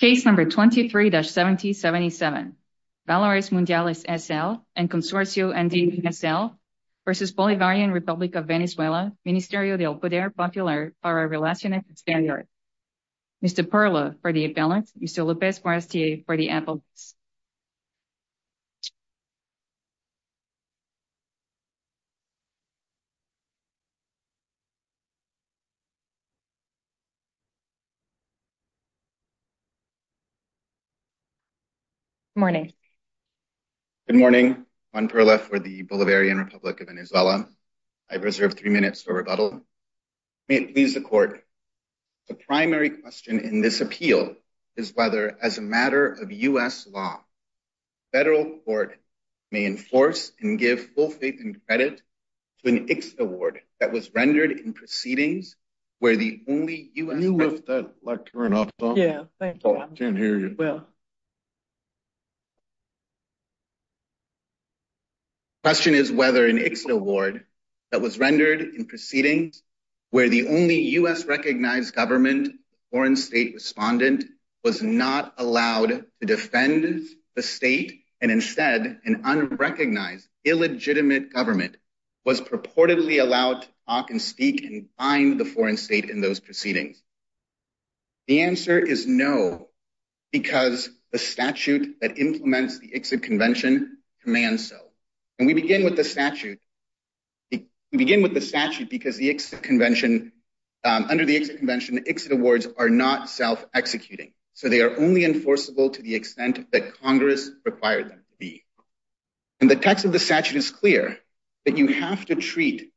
Case number 23-7077, Valores Mundiales, S.L. and Consorcio N.D., S.L. v. Bolivarian Republic of Venezuela, Ministerio del Poder Popular para Relaciones Extranjeras. Mr. Perla for the appellant, Mr. López-Morastier for the appellant. Good morning. Good morning, Juan Perla for the Bolivarian Republic of Venezuela. I reserve three minutes for rebuttal. May it please the court, the primary question in this appeal is whether, as a matter of U.S. law, federal court may enforce and give full faith and credit to an ICS award that was rendered in proceedings where the only U.S. Can you lift that? Yeah, thank you. I can't hear you. Question is whether an ICS award that was rendered in proceedings where the only U.S. recognized government foreign state respondent was not allowed to defend the state and instead an unrecognized, illegitimate government was purportedly allowed to talk and speak and find the foreign state in those proceedings. The answer is no, because the statute that implements the ICSID convention commands so. And we begin with the statute because the ICSID convention, under the ICSID convention, the ICSID awards are not self-executing. So they are only enforceable to the extent that Congress required them to be. And the text of the statute is clear that you have to treat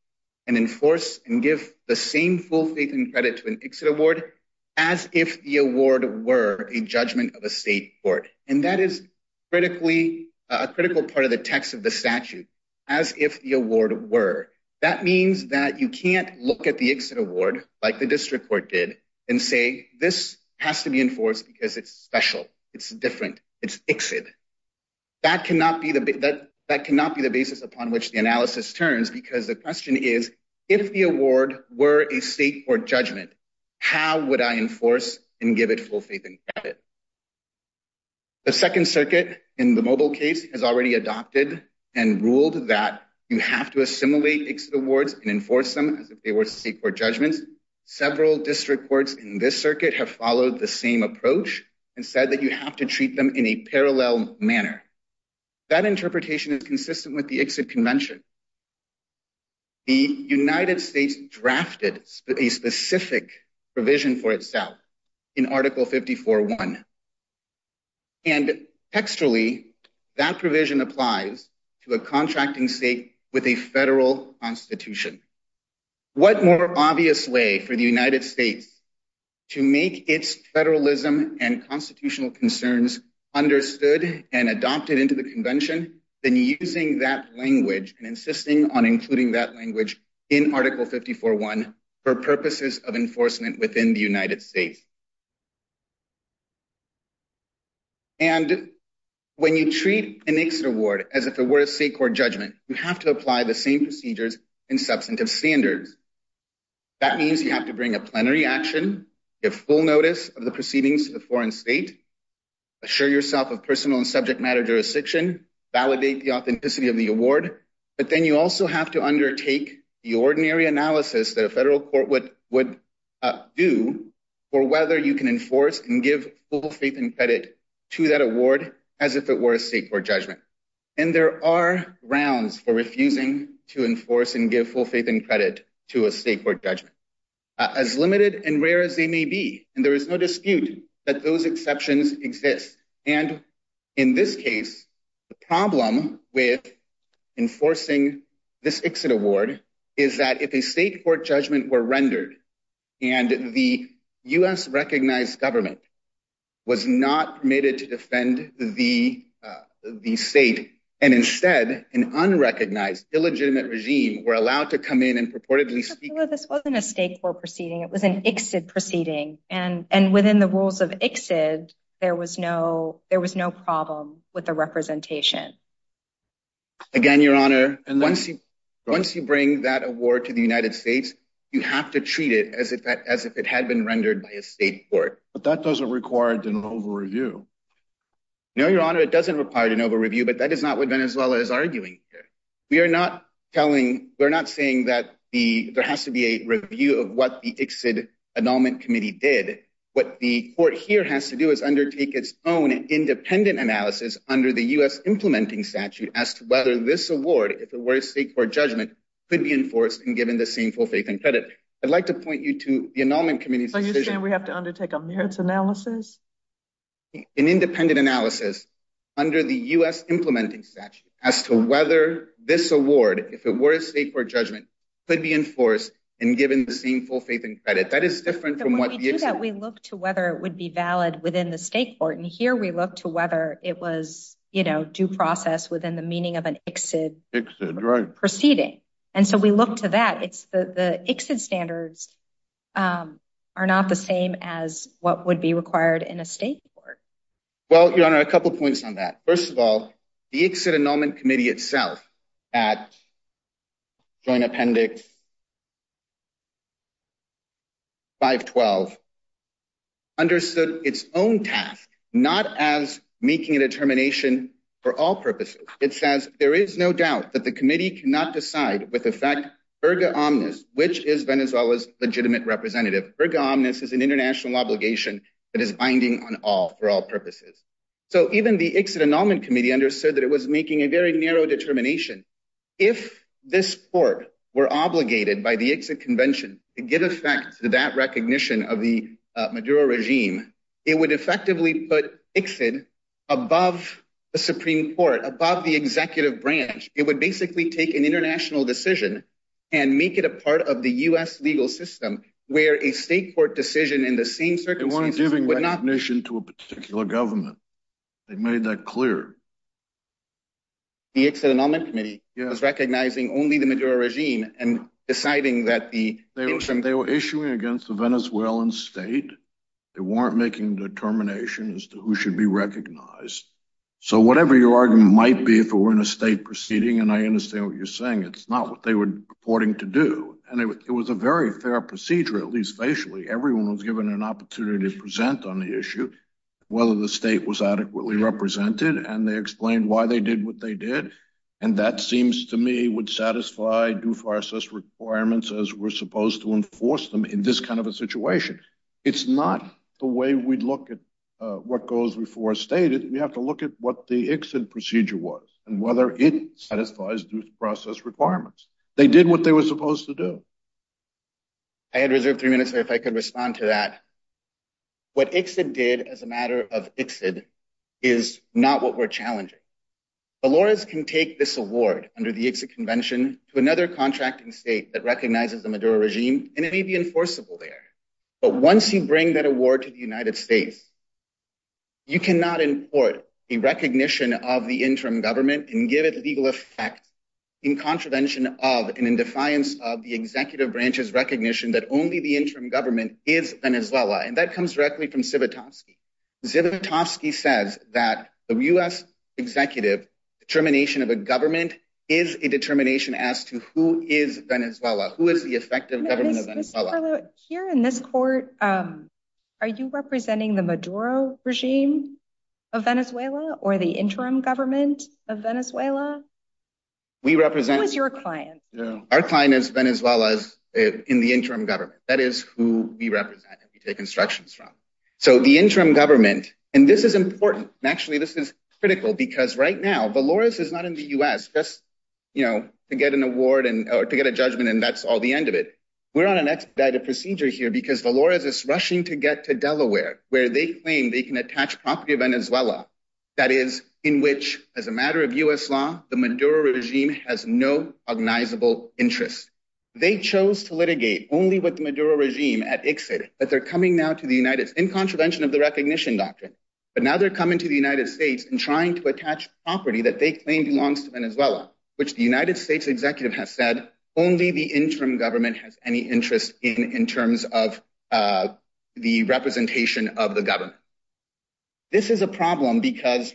and enforce and give the same full faith and credit to an ICSID award as if the award were a judgment of a state court. And that is critically, a critical part of the text of the statute, as if the award were. That means that you can't look at the ICSID award like the district court did and say this has to be enforced because it's special. It's different. It's ICSID. That cannot be the basis upon which the analysis turns because the question is, if the award were a state court judgment, how would I enforce and give it full faith and credit? The Second Circuit in the Mobile case has already adopted and ruled that you have to assimilate ICSID awards and enforce them as if they were state court judgments. Several district courts in this circuit have followed the same approach and said that you have to treat them in a parallel manner. That interpretation is consistent with the ICSID convention. The United States drafted a specific provision for itself in Article 54.1. And textually, that provision applies to a contracting state with a federal constitution. What more obvious way for the United States to make its federalism and constitutional concerns understood and adopted into the convention than using that language and insisting on including that language in Article 54.1 for purposes of enforcement within the United States? And when you treat an ICSID award as if it were a state court judgment, you have to apply the same procedures and substantive standards. That means you have to bring a plenary action, give full notice of the proceedings to the foreign state, assure yourself of personal and subject matter jurisdiction, validate the authenticity of the award. But then you also have to undertake the ordinary analysis that a federal court would do for whether you can enforce and give full faith and credit to that award as if it were a state court judgment. And there are rounds for refusing to enforce and give full faith and credit to a state court judgment. As limited and rare as they may be, and there is no dispute that those exceptions exist. And in this case, the problem with enforcing this ICSID award is that if a state court judgment were rendered and the U.S.-recognized government was not permitted to defend the state, and instead an unrecognized, illegitimate regime were allowed to come in and purportedly speak. No, this wasn't a state court proceeding. It was an ICSID proceeding. And within the rules of ICSID, there was no problem with the representation. Again, Your Honor, once you bring that award to the United States, you have to treat it as if it had been rendered by a state court. But that doesn't require an over-review. No, Your Honor, it doesn't require an over-review, but that is not what Venezuela is arguing here. We are not saying that there has to be a review of what the ICSID Annulment Committee did. What the court here has to do is undertake its own independent analysis under the U.S. Implementing Statute as to whether this award, if it were a state court judgment, could be enforced and given the same full faith and credit. I'd like to point you to the Annulment Committee's decision— Are you saying we have to undertake a merits analysis? An independent analysis under the U.S. Implementing Statute as to whether this award, if it were a state court judgment, could be enforced and given the same full faith and credit. That is different from what the ICSID— When we do that, we look to whether it would be valid within the state court. And here we look to whether it was due process within the meaning of an ICSID proceeding. And so we look to that. The ICSID standards are not the same as what would be required in a state court. Well, Your Honor, a couple points on that. First of all, the ICSID Annulment Committee itself at Joint Appendix 512 understood its own task, not as making a determination for all purposes. It says, There is no doubt that the committee cannot decide with effect erga omnes, which is Venezuela's legitimate representative. Erga omnes is an international obligation that is binding on all for all purposes. So even the ICSID Annulment Committee understood that it was making a very narrow determination. If this court were obligated by the ICSID Convention to give effect to that recognition of the Maduro regime, it would effectively put ICSID above the Supreme Court, above the executive branch. It would basically take an international decision and make it a part of the U.S. legal system, where a state court decision in the same circumstances would not— They weren't giving recognition to a particular government. They made that clear. The ICSID Annulment Committee was recognizing only the Maduro regime and deciding that the— They were issuing against the Venezuelan state. They weren't making a determination as to who should be recognized. So whatever your argument might be, if it were in a state proceeding, and I understand what you're saying, it's not what they were purporting to do. And it was a very fair procedure, at least facially. Everyone was given an opportunity to present on the issue, whether the state was adequately represented. And they explained why they did what they did. And that seems to me would satisfy due process requirements as we're supposed to enforce them in this kind of a situation. It's not the way we'd look at what goes before a stated. We have to look at what the ICSID procedure was and whether it satisfies due process requirements. They did what they were supposed to do. I had reserved three minutes there if I could respond to that. What ICSID did as a matter of ICSID is not what we're challenging. Dolores can take this award under the ICSID convention to another contracting state that recognizes the Maduro regime, and it may be enforceable there. But once you bring that award to the United States, you cannot import a recognition of the interim government and give it legal effect in contravention of and in defiance of the executive branch's recognition that only the interim government is Venezuela. And that comes directly from Zivotofsky. Zivotofsky says that the U.S. executive determination of a government is a determination as to who is Venezuela, who is the effective government of Venezuela. Mr. Perlow, here in this court, are you representing the Maduro regime of Venezuela or the interim government of Venezuela? Who is your client? Our client is Venezuela in the interim government. That is who we represent and we take instructions from. So the interim government, and this is important. Actually, this is critical because right now, Dolores is not in the U.S. just to get an award or to get a judgment, and that's all the end of it. We're on an expedited procedure here because Dolores is rushing to get to Delaware where they claim they can attach property of Venezuela. That is, in which, as a matter of U.S. law, the Maduro regime has no cognizable interest. They chose to litigate only with the Maduro regime at ICSID, but they're coming now to the United States in contravention of the recognition doctrine. But now they're coming to the United States and trying to attach property that they claim belongs to Venezuela, which the United States executive has said only the interim government has any interest in in terms of the representation of the government. This is a problem because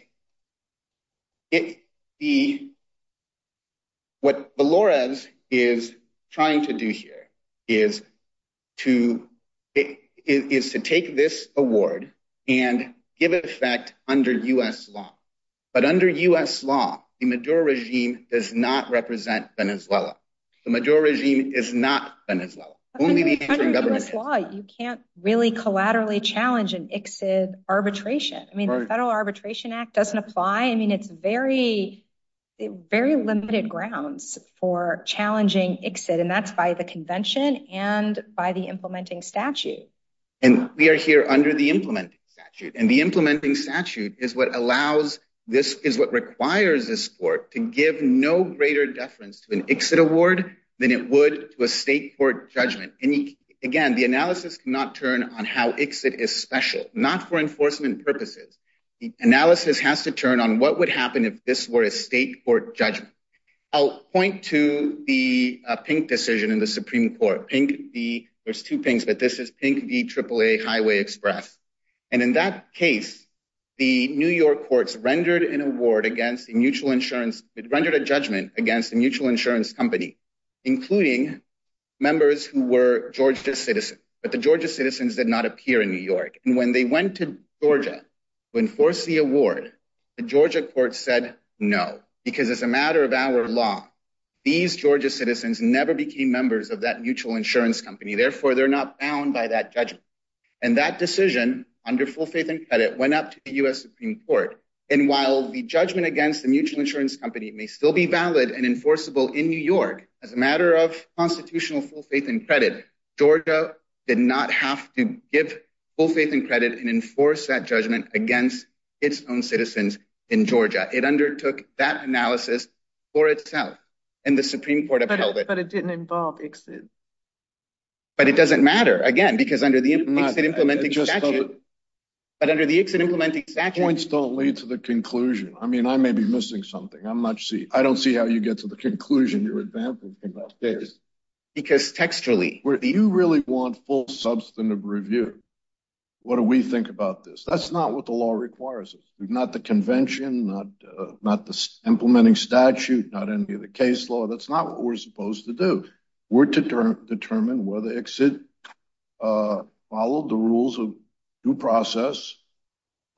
what Dolores is trying to do here is to take this award and give it effect under U.S. law. But under U.S. law, the Maduro regime does not represent Venezuela. The Maduro regime is not Venezuela. Under U.S. law, you can't really collaterally challenge an ICSID arbitration. I mean, the Federal Arbitration Act doesn't apply. I mean, it's very, very limited grounds for challenging ICSID, and that's by the convention and by the implementing statute. And we are here under the implementing statute. And the implementing statute is what requires this court to give no greater deference to an ICSID award than it would to a state court judgment. And, again, the analysis cannot turn on how ICSID is special, not for enforcement purposes. The analysis has to turn on what would happen if this were a state court judgment. I'll point to the pink decision in the Supreme Court. There's two pinks, but this is Pink v AAA Highway Express. And in that case, the New York courts rendered an award against a mutual insurance – rendered a judgment against a mutual insurance company, including members who were Georgia citizens. But the Georgia citizens did not appear in New York. And when they went to Georgia to enforce the award, the Georgia courts said no, because as a matter of our law, these Georgia citizens never became members of that mutual insurance company. Therefore, they're not bound by that judgment. And that decision, under full faith and credit, went up to the U.S. Supreme Court. And while the judgment against the mutual insurance company may still be valid and enforceable in New York, as a matter of constitutional full faith and credit, Georgia did not have to give full faith and credit and enforce that judgment against its own citizens in Georgia. It undertook that analysis for itself, and the Supreme Court upheld it. But it didn't involve ICSID. But it doesn't matter, again, because under the ICSID implementing statute – But under the ICSID implementing statute – Points don't lead to the conclusion. I mean, I may be missing something. I don't see how you get to the conclusion you're advancing in that case. Because textually – You really want full substantive review. What do we think about this? That's not what the law requires of us. Not the convention, not the implementing statute, not any of the case law. That's not what we're supposed to do. We're to determine whether ICSID followed the rules of due process,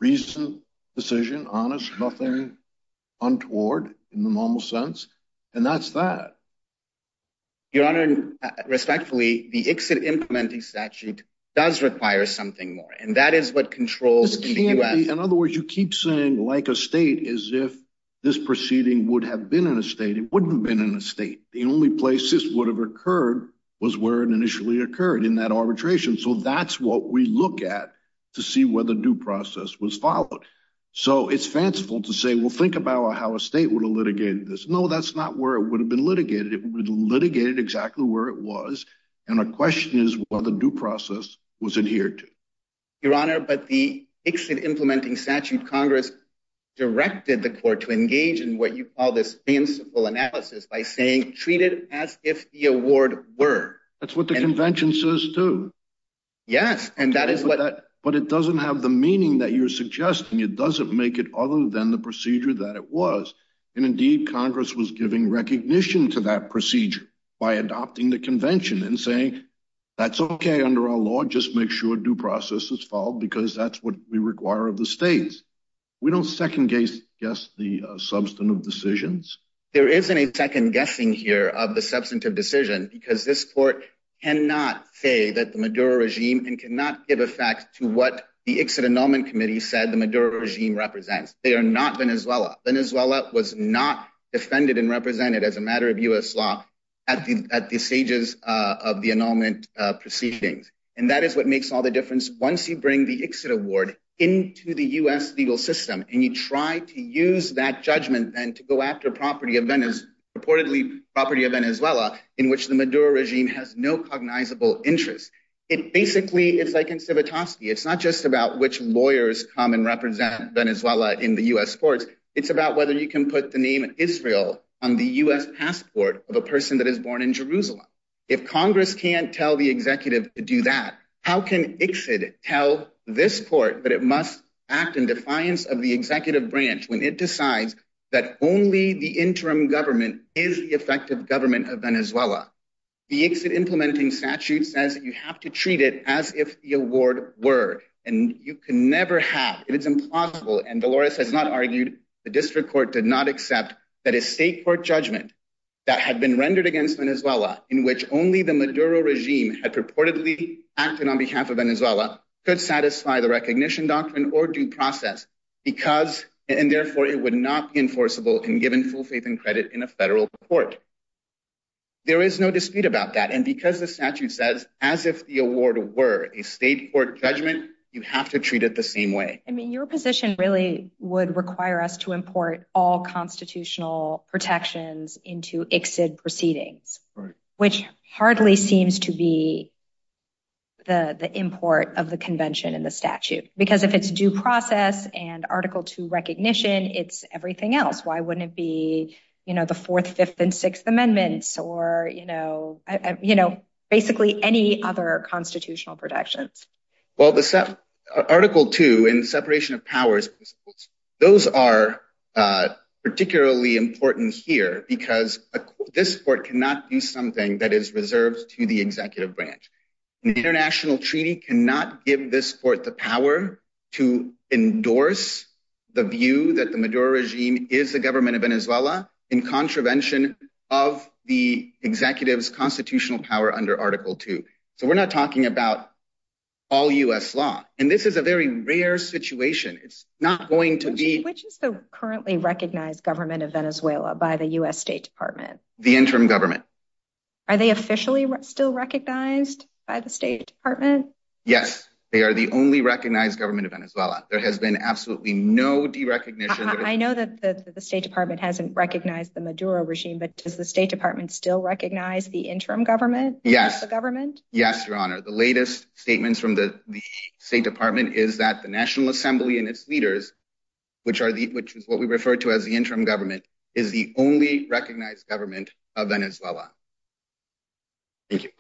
reason, decision, honest, nothing untoward in the normal sense. And that's that. Your Honor, respectfully, the ICSID implementing statute does require something more. And that is what controls the DQF. In other words, you keep saying, like a state, as if this proceeding would have been in a state. It wouldn't have been in a state. The only place this would have occurred was where it initially occurred, in that arbitration. So that's what we look at to see whether due process was followed. So it's fanciful to say, well, think about how a state would have litigated this. No, that's not where it would have been litigated. It would have been litigated exactly where it was. And our question is whether due process was adhered to. Your Honor, but the ICSID implementing statute, Congress directed the court to engage in what you call this fanciful analysis by saying, treat it as if the award were. That's what the convention says, too. Yes, and that is what. But it doesn't have the meaning that you're suggesting. It doesn't make it other than the procedure that it was. And indeed, Congress was giving recognition to that procedure by adopting the convention and saying, that's OK under our law. Just make sure due process is followed because that's what we require of the states. We don't second guess the substantive decisions. There isn't a second guessing here of the substantive decision because this court cannot say that the Maduro regime and cannot give effect to what the ICSID annulment committee said the Maduro regime represents. They are not Venezuela. Venezuela was not defended and represented as a matter of U.S. law at the stages of the annulment proceedings. And that is what makes all the difference. Once you bring the ICSID award into the U.S. legal system and you try to use that judgment and to go after property of Venice, reportedly property of Venezuela in which the Maduro regime has no cognizable interest. It basically is like in Civitaski. It's not just about which lawyers come and represent Venezuela in the U.S. courts. It's about whether you can put the name Israel on the U.S. passport of a person that is born in Jerusalem. If Congress can't tell the executive to do that, how can ICSID tell this court that it must act in defiance of the executive branch when it decides that only the interim government is the effective government of Venezuela? The ICSID implementing statute says that you have to treat it as if the award were. And you can never have. It is implausible. And Dolores has not argued. The district court did not accept that a state court judgment that had been rendered against Venezuela in which only the Maduro regime had purportedly acted on behalf of Venezuela could satisfy the recognition doctrine or due process. And therefore it would not be enforceable and given full faith and credit in a federal court. There is no dispute about that. And because the statute says as if the award were a state court judgment, you have to treat it the same way. I mean, your position really would require us to import all constitutional protections into ICSID proceedings, which hardly seems to be. The import of the convention in the statute, because if it's due process and article to recognition, it's everything else. Why wouldn't it be, you know, the fourth, fifth and sixth amendments or, you know, you know, basically any other constitutional protections? Well, the article to in separation of powers, those are particularly important here because this court cannot do something that is reserved to the executive branch. The international treaty cannot give this court the power to endorse the view that the Maduro regime is the government of Venezuela in contravention of the executive's constitutional power under article two. So we're not talking about all U.S. law. And this is a very rare situation. It's not going to be which is the currently recognized government of Venezuela by the U.S. State Department, the interim government. Are they officially still recognized by the State Department? Yes. They are the only recognized government of Venezuela. There has been absolutely no recognition. I know that the State Department hasn't recognized the Maduro regime, but does the State Department still recognize the interim government? Yes, the government. Yes, Your Honor. The latest statements from the State Department is that the National Assembly and its leaders, which are the which is what we refer to as the interim government, is the only recognized government of Venezuela. Thank you.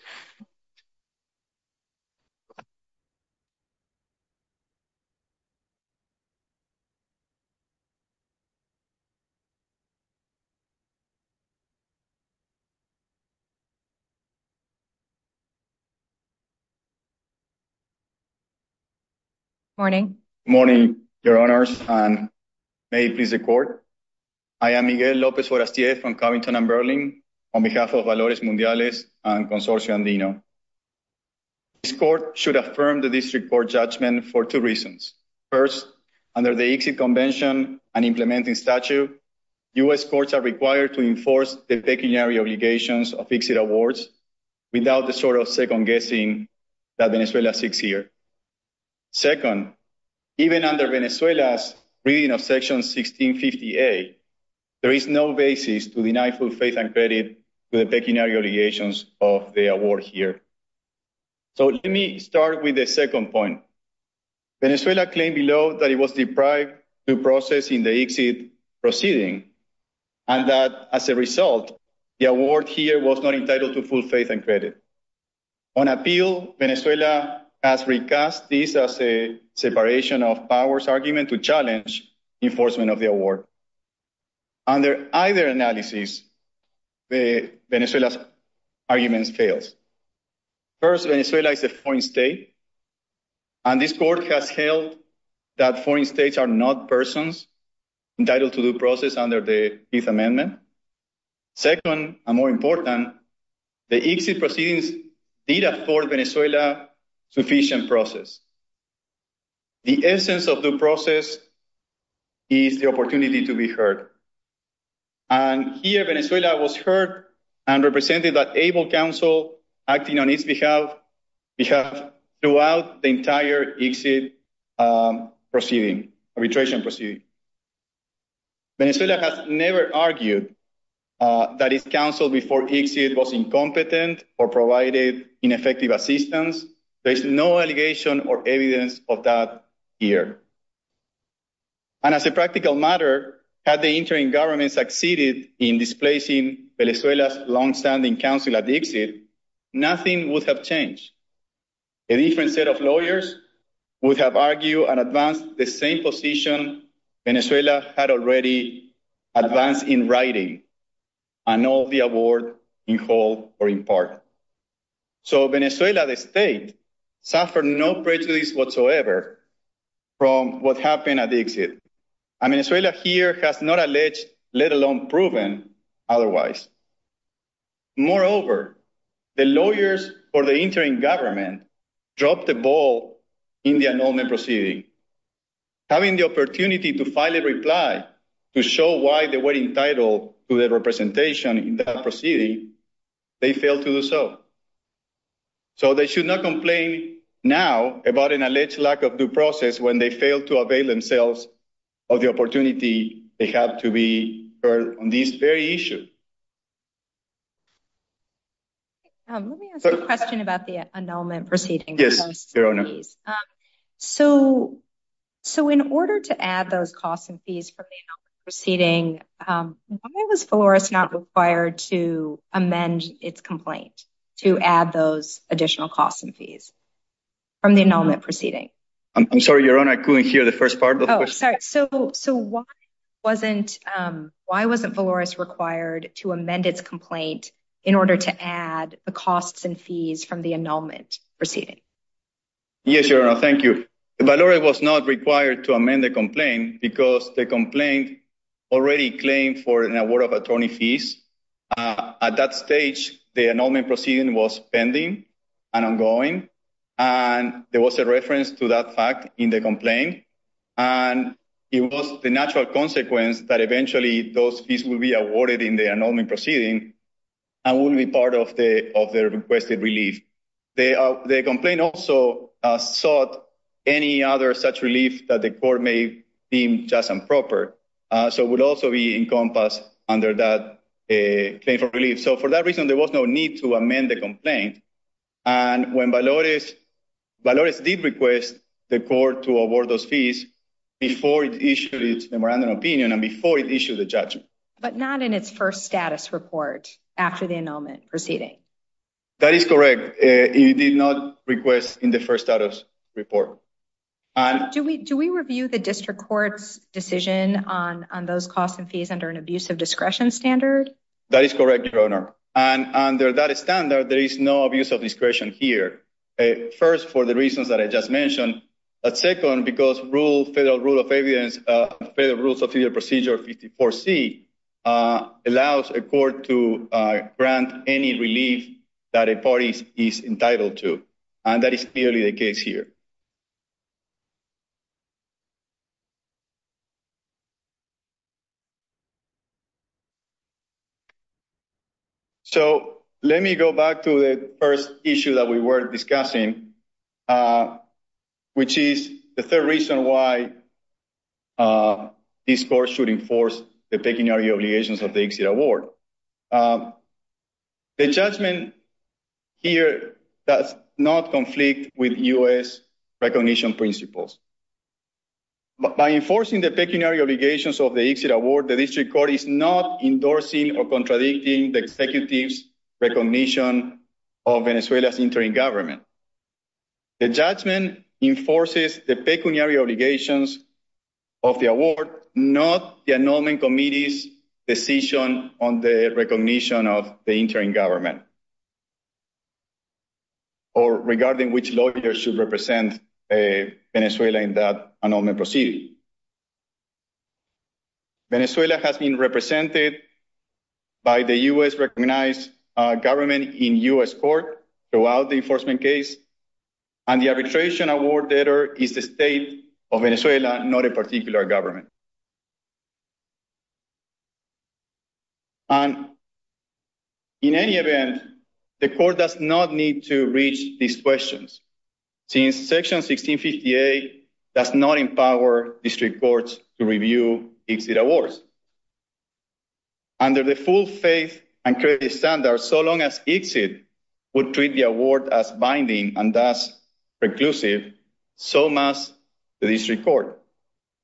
Morning. Morning, Your Honors. And may it please the court. I am Miguel Lopez from Covington and Berlin on behalf of Valores Mundiales and Consortium Dino. This court should affirm the district court judgment for two reasons. First, under the convention and implementing statute, U.S. courts are required to enforce the pecuniary obligations of exit awards. Without the sort of second-guessing that Venezuela seeks here. Second, even under Venezuela's reading of Section 1650A, there is no basis to deny full faith and credit to the pecuniary obligations of the award here. So let me start with the second point. Venezuela claimed below that it was deprived to process in the exit proceeding and that, as a result, the award here was not entitled to full faith and credit. On appeal, Venezuela has recast this as a separation of powers argument to challenge enforcement of the award. Under either analysis, Venezuela's argument fails. First, Venezuela is a foreign state. And this court has held that foreign states are not persons entitled to the process under the Fifth Amendment. Second, and more important, the exit proceedings did afford Venezuela sufficient process. The essence of the process is the opportunity to be heard. And here, Venezuela was heard and represented by able counsel acting on its behalf throughout the entire exit proceeding, arbitration proceeding. Venezuela has never argued that its counsel before exit was incompetent or provided ineffective assistance. There is no allegation or evidence of that here. And as a practical matter, had the interim government succeeded in displacing Venezuela's longstanding counsel at the exit, nothing would have changed. A different set of lawyers would have argued and advanced the same position Venezuela had already advanced in writing and all the award in whole or in part. So Venezuela, the state, suffered no prejudice whatsoever from what happened at the exit. And Venezuela here has not alleged, let alone proven, otherwise. Moreover, the lawyers for the interim government dropped the ball in the annulment proceeding. Having the opportunity to file a reply to show why they were entitled to the representation in that proceeding, they failed to do so. So they should not complain now about an alleged lack of due process when they fail to avail themselves of the opportunity they have to be heard on this very issue. Let me ask a question about the annulment proceeding. So, so in order to add those costs and fees from the proceeding, why was Flores not required to amend its complaint to add those additional costs and fees from the annulment proceeding? I'm sorry, your honor. I couldn't hear the first part. So, so why wasn't why wasn't Flores required to amend its complaint in order to add the costs and fees from the annulment proceeding? Yes, your honor. Thank you. Valeria was not required to amend the complaint because the complaint already claimed for an award of attorney fees. At that stage, the annulment proceeding was pending and ongoing. And there was a reference to that fact in the complaint. And it was the natural consequence that eventually those fees will be awarded in the annulment proceeding and will be part of the of the requested relief. The complaint also sought any other such relief that the court may deem just and proper. So it would also be encompassed under that claim for relief. So for that reason, there was no need to amend the complaint. And when Valores did request the court to award those fees before it issued its memorandum of opinion and before it issued the judgment. But not in its first status report after the annulment proceeding. That is correct. It did not request in the first status report. Do we do we review the district court's decision on those costs and fees under an abuse of discretion standard? That is correct, Your Honor. And under that standard, there is no abuse of discretion here. First, for the reasons that I just mentioned. But second, because rule, federal rule of evidence, federal rules of procedure 54C allows a court to grant any relief that a party is entitled to. And that is clearly the case here. So let me go back to the first issue that we were discussing, which is the third reason why this court should enforce the pecuniary obligations of the exit award. The judgment here does not conflict with U.S. recognition principles. By enforcing the pecuniary obligations of the exit award, the district court is not endorsing or contradicting the executive's recognition of Venezuela's interim government. The judgment enforces the pecuniary obligations of the award, not the annulment committee's decision on the recognition of the interim government. Or regarding which lawyers should represent Venezuela in that annulment proceeding. Venezuela has been represented by the U.S.-recognized government in U.S. court throughout the enforcement case. And the arbitration award letter is the state of Venezuela, not a particular government. And in any event, the court does not need to reach these questions. Since Section 1658 does not empower district courts to review exit awards. Under the full faith and credit standard, so long as exit would treat the award as binding and thus preclusive, so must the district court.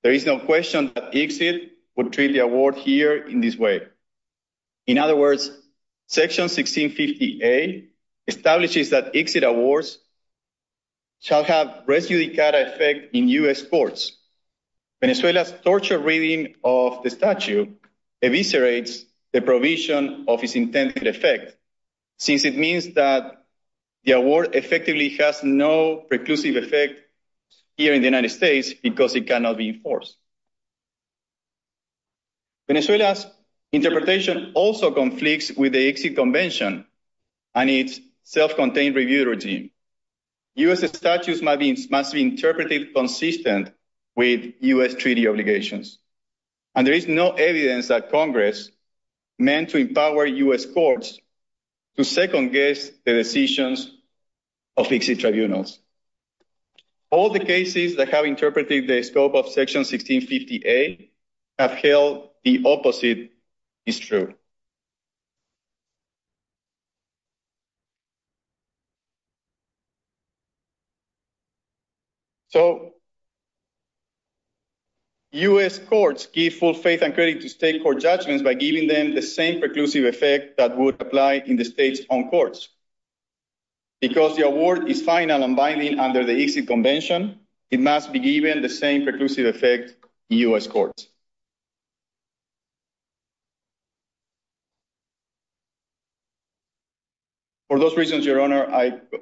There is no question that exit would treat the award here in this way. In other words, Section 1658 establishes that exit awards shall have res judicata effect in U.S. courts. Venezuela's torture reading of the statute eviscerates the provision of its intended effect. Since it means that the award effectively has no preclusive effect here in the United States because it cannot be enforced. Venezuela's interpretation also conflicts with the Exit Convention and its self-contained review regime. U.S. statutes must be interpreted consistent with U.S. treaty obligations. And there is no evidence that Congress meant to empower U.S. courts to second-guess the decisions of exit tribunals. All the cases that have interpreted the scope of Section 1658 have held the opposite is true. So, U.S. courts give full faith and credit to state court judgments by giving them the same preclusive effect that would apply in the state's own courts. Because the award is final and binding under the Exit Convention, it must be given the same preclusive effect in U.S. courts. For those reasons, Your Honor,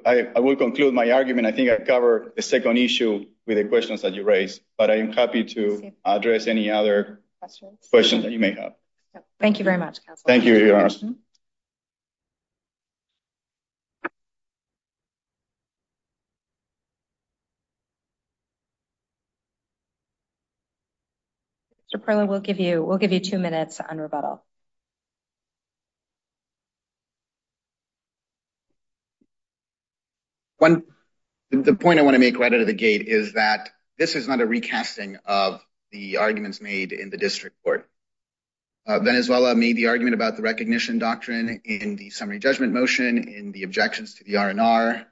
I will conclude my argument. I think I covered the second issue with the questions that you raised. But I am happy to address any other questions that you may have. Thank you very much, Counselor. Thank you, Your Honor. Mr. Perla, we'll give you two minutes on rebuttal. The point I want to make right out of the gate is that this is not a recasting of the arguments made in the district court. Venezuela made the argument about the recognition doctrine in the summary judgment motion in the objections to the R&R.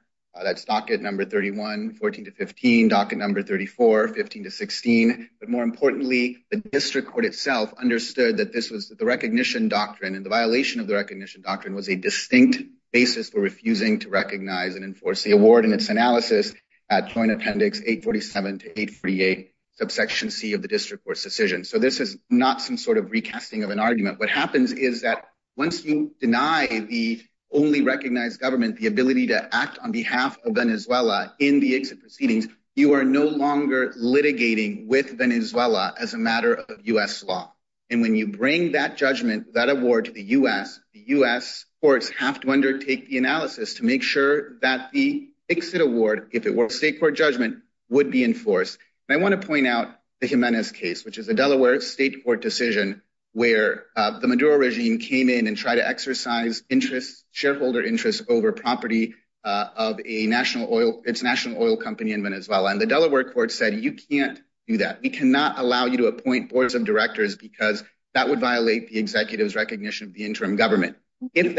That's docket number 31, 14 to 15, docket number 34, 15 to 16. But more importantly, the district court itself understood that this was the recognition doctrine. And the violation of the recognition doctrine was a distinct basis for refusing to recognize and enforce the award in its analysis at Joint Appendix 847 to 848, subsection C of the district court's decision. So, this is not some sort of recasting of an argument. What happens is that once you deny the only recognized government the ability to act on behalf of Venezuela in the exit proceedings, you are no longer litigating with Venezuela as a matter of U.S. law. And when you bring that judgment, that award to the U.S., the U.S. courts have to undertake the analysis to make sure that the exit award, if it were a state court judgment, would be enforced. And I want to point out the Jimenez case, which is a Delaware state court decision where the Maduro regime came in and tried to exercise interests, shareholder interests, over property of a national oil, its national oil company in Venezuela. And the Delaware court said, you can't do that. We cannot allow you to appoint boards of directors because that would violate the executive's recognition of the interim government. Is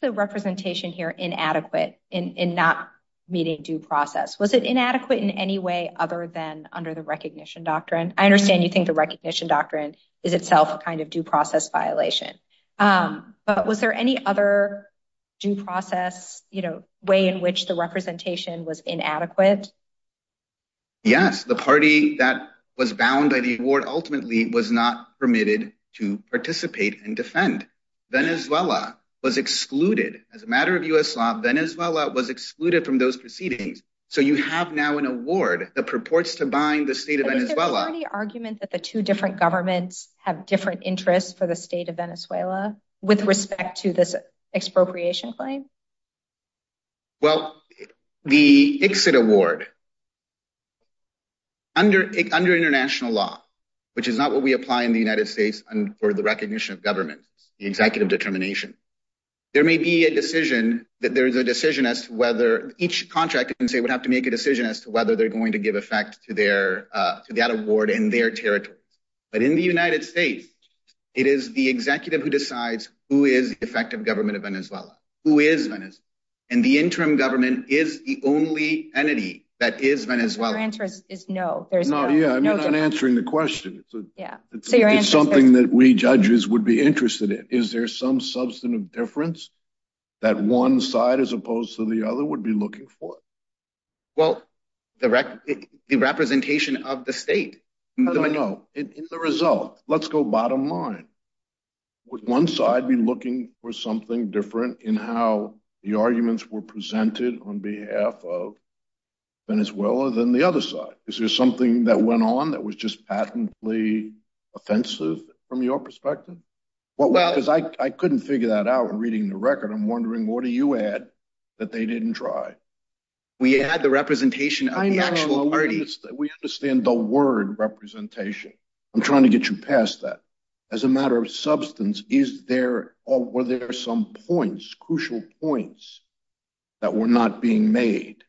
the representation here inadequate in not meeting due process? Was it inadequate in any way other than under the recognition doctrine? I understand you think the recognition doctrine is itself a kind of due process violation. But was there any other due process way in which the representation was inadequate? Yes, the party that was bound by the award ultimately was not permitted to participate and defend. Venezuela was excluded as a matter of U.S. law. Venezuela was excluded from those proceedings. So you have now an award that purports to bind the state of Venezuela. Is there already argument that the two different governments have different interests for the state of Venezuela with respect to this expropriation claim? Well, the ICSID award, under international law, which is not what we apply in the United States for the recognition of government, the executive determination, there may be a decision that there is a decision as to whether each contract would have to make a decision as to whether they're going to give effect to that award in their territory. But in the United States, it is the executive who decides who is effective government of Venezuela, who is Venezuela. And the interim government is the only entity that is Venezuela. Your answer is no. I'm not answering the question. It's something that we judges would be interested in. Is there some substantive difference that one side as opposed to the other would be looking for? Well, the representation of the state. I don't know. In the result, let's go bottom line. Would one side be looking for something different in how the arguments were presented on behalf of Venezuela than the other side? Is there something that went on that was just patently offensive from your perspective? Because I couldn't figure that out reading the record. I'm wondering, what do you add that they didn't try? We add the representation of the actual parties. We understand the word representation. I'm trying to get you past that. As a matter of substance, were there some points, crucial points, that were not being made?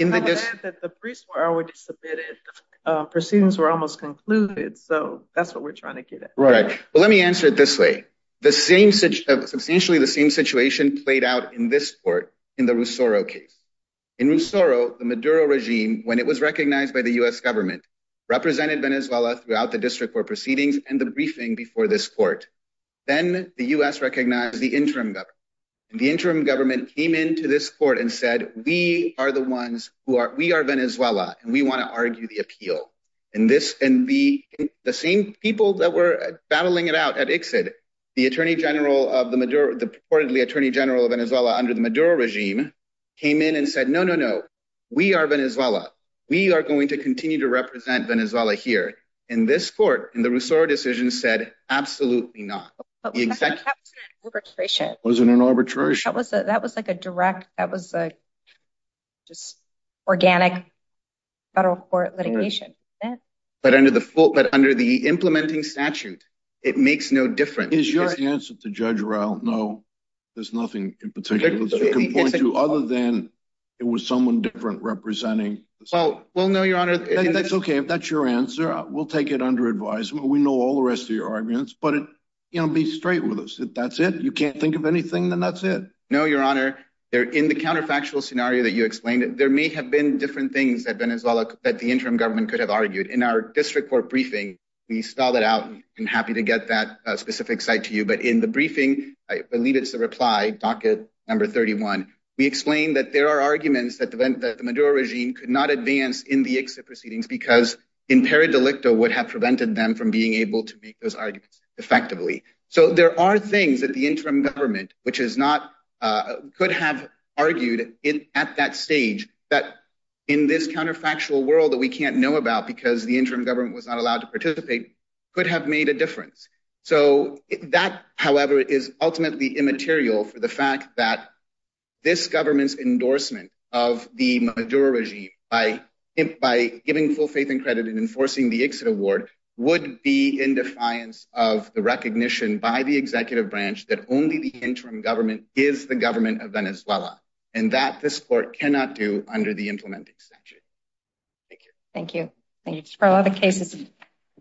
I would add that the briefs were already submitted. Proceedings were almost concluded. So that's what we're trying to get at. Right. Well, let me answer it this way. Substantially the same situation played out in this court in the Ruzoro case. In Ruzoro, the Maduro regime, when it was recognized by the U.S. government, represented Venezuela throughout the district court proceedings and the briefing before this court. Then the U.S. recognized the interim government. The interim government came into this court and said, we are the ones who are, we are Venezuela, and we want to argue the appeal. The same people that were battling it out at ICSID, the reportedly Attorney General of Venezuela under the Maduro regime, came in and said, no, no, no, we are Venezuela. We are going to continue to represent Venezuela here. And this court in the Ruzoro decision said, absolutely not. That wasn't an arbitration. That wasn't an arbitration. That was an organic federal court litigation. But under the implementing statute, it makes no difference. Is your answer to Judge Raul, no, there's nothing in particular that you can point to other than it was someone different representing. Well, no, Your Honor. That's okay. If that's your answer, we'll take it under advisement. We know all the rest of your arguments, but be straight with us. If that's it, you can't think of anything, then that's it. No, Your Honor. In the counterfactual scenario that you explained, there may have been different things that Venezuela, that the interim government could have argued. In our district court briefing, we spelled it out. I'm happy to get that specific site to you. But in the briefing, I believe it's the reply, docket number 31. We explained that there are arguments that the Maduro regime could not advance in the ICSID proceedings because in per delicto would have prevented them from being able to make those arguments effectively. So there are things that the interim government, which could have argued at that stage, that in this counterfactual world that we can't know about because the interim government was not allowed to participate, could have made a difference. So that, however, is ultimately immaterial for the fact that this government's endorsement of the Maduro regime by giving full faith and credit in enforcing the ICSID award would be in defiance of the recognition by the executive branch that only the interim government is the government of Venezuela. And that this court cannot do under the implementing statute. Thank you. Thank you. Thank you. Thank you. Thank you for all the cases.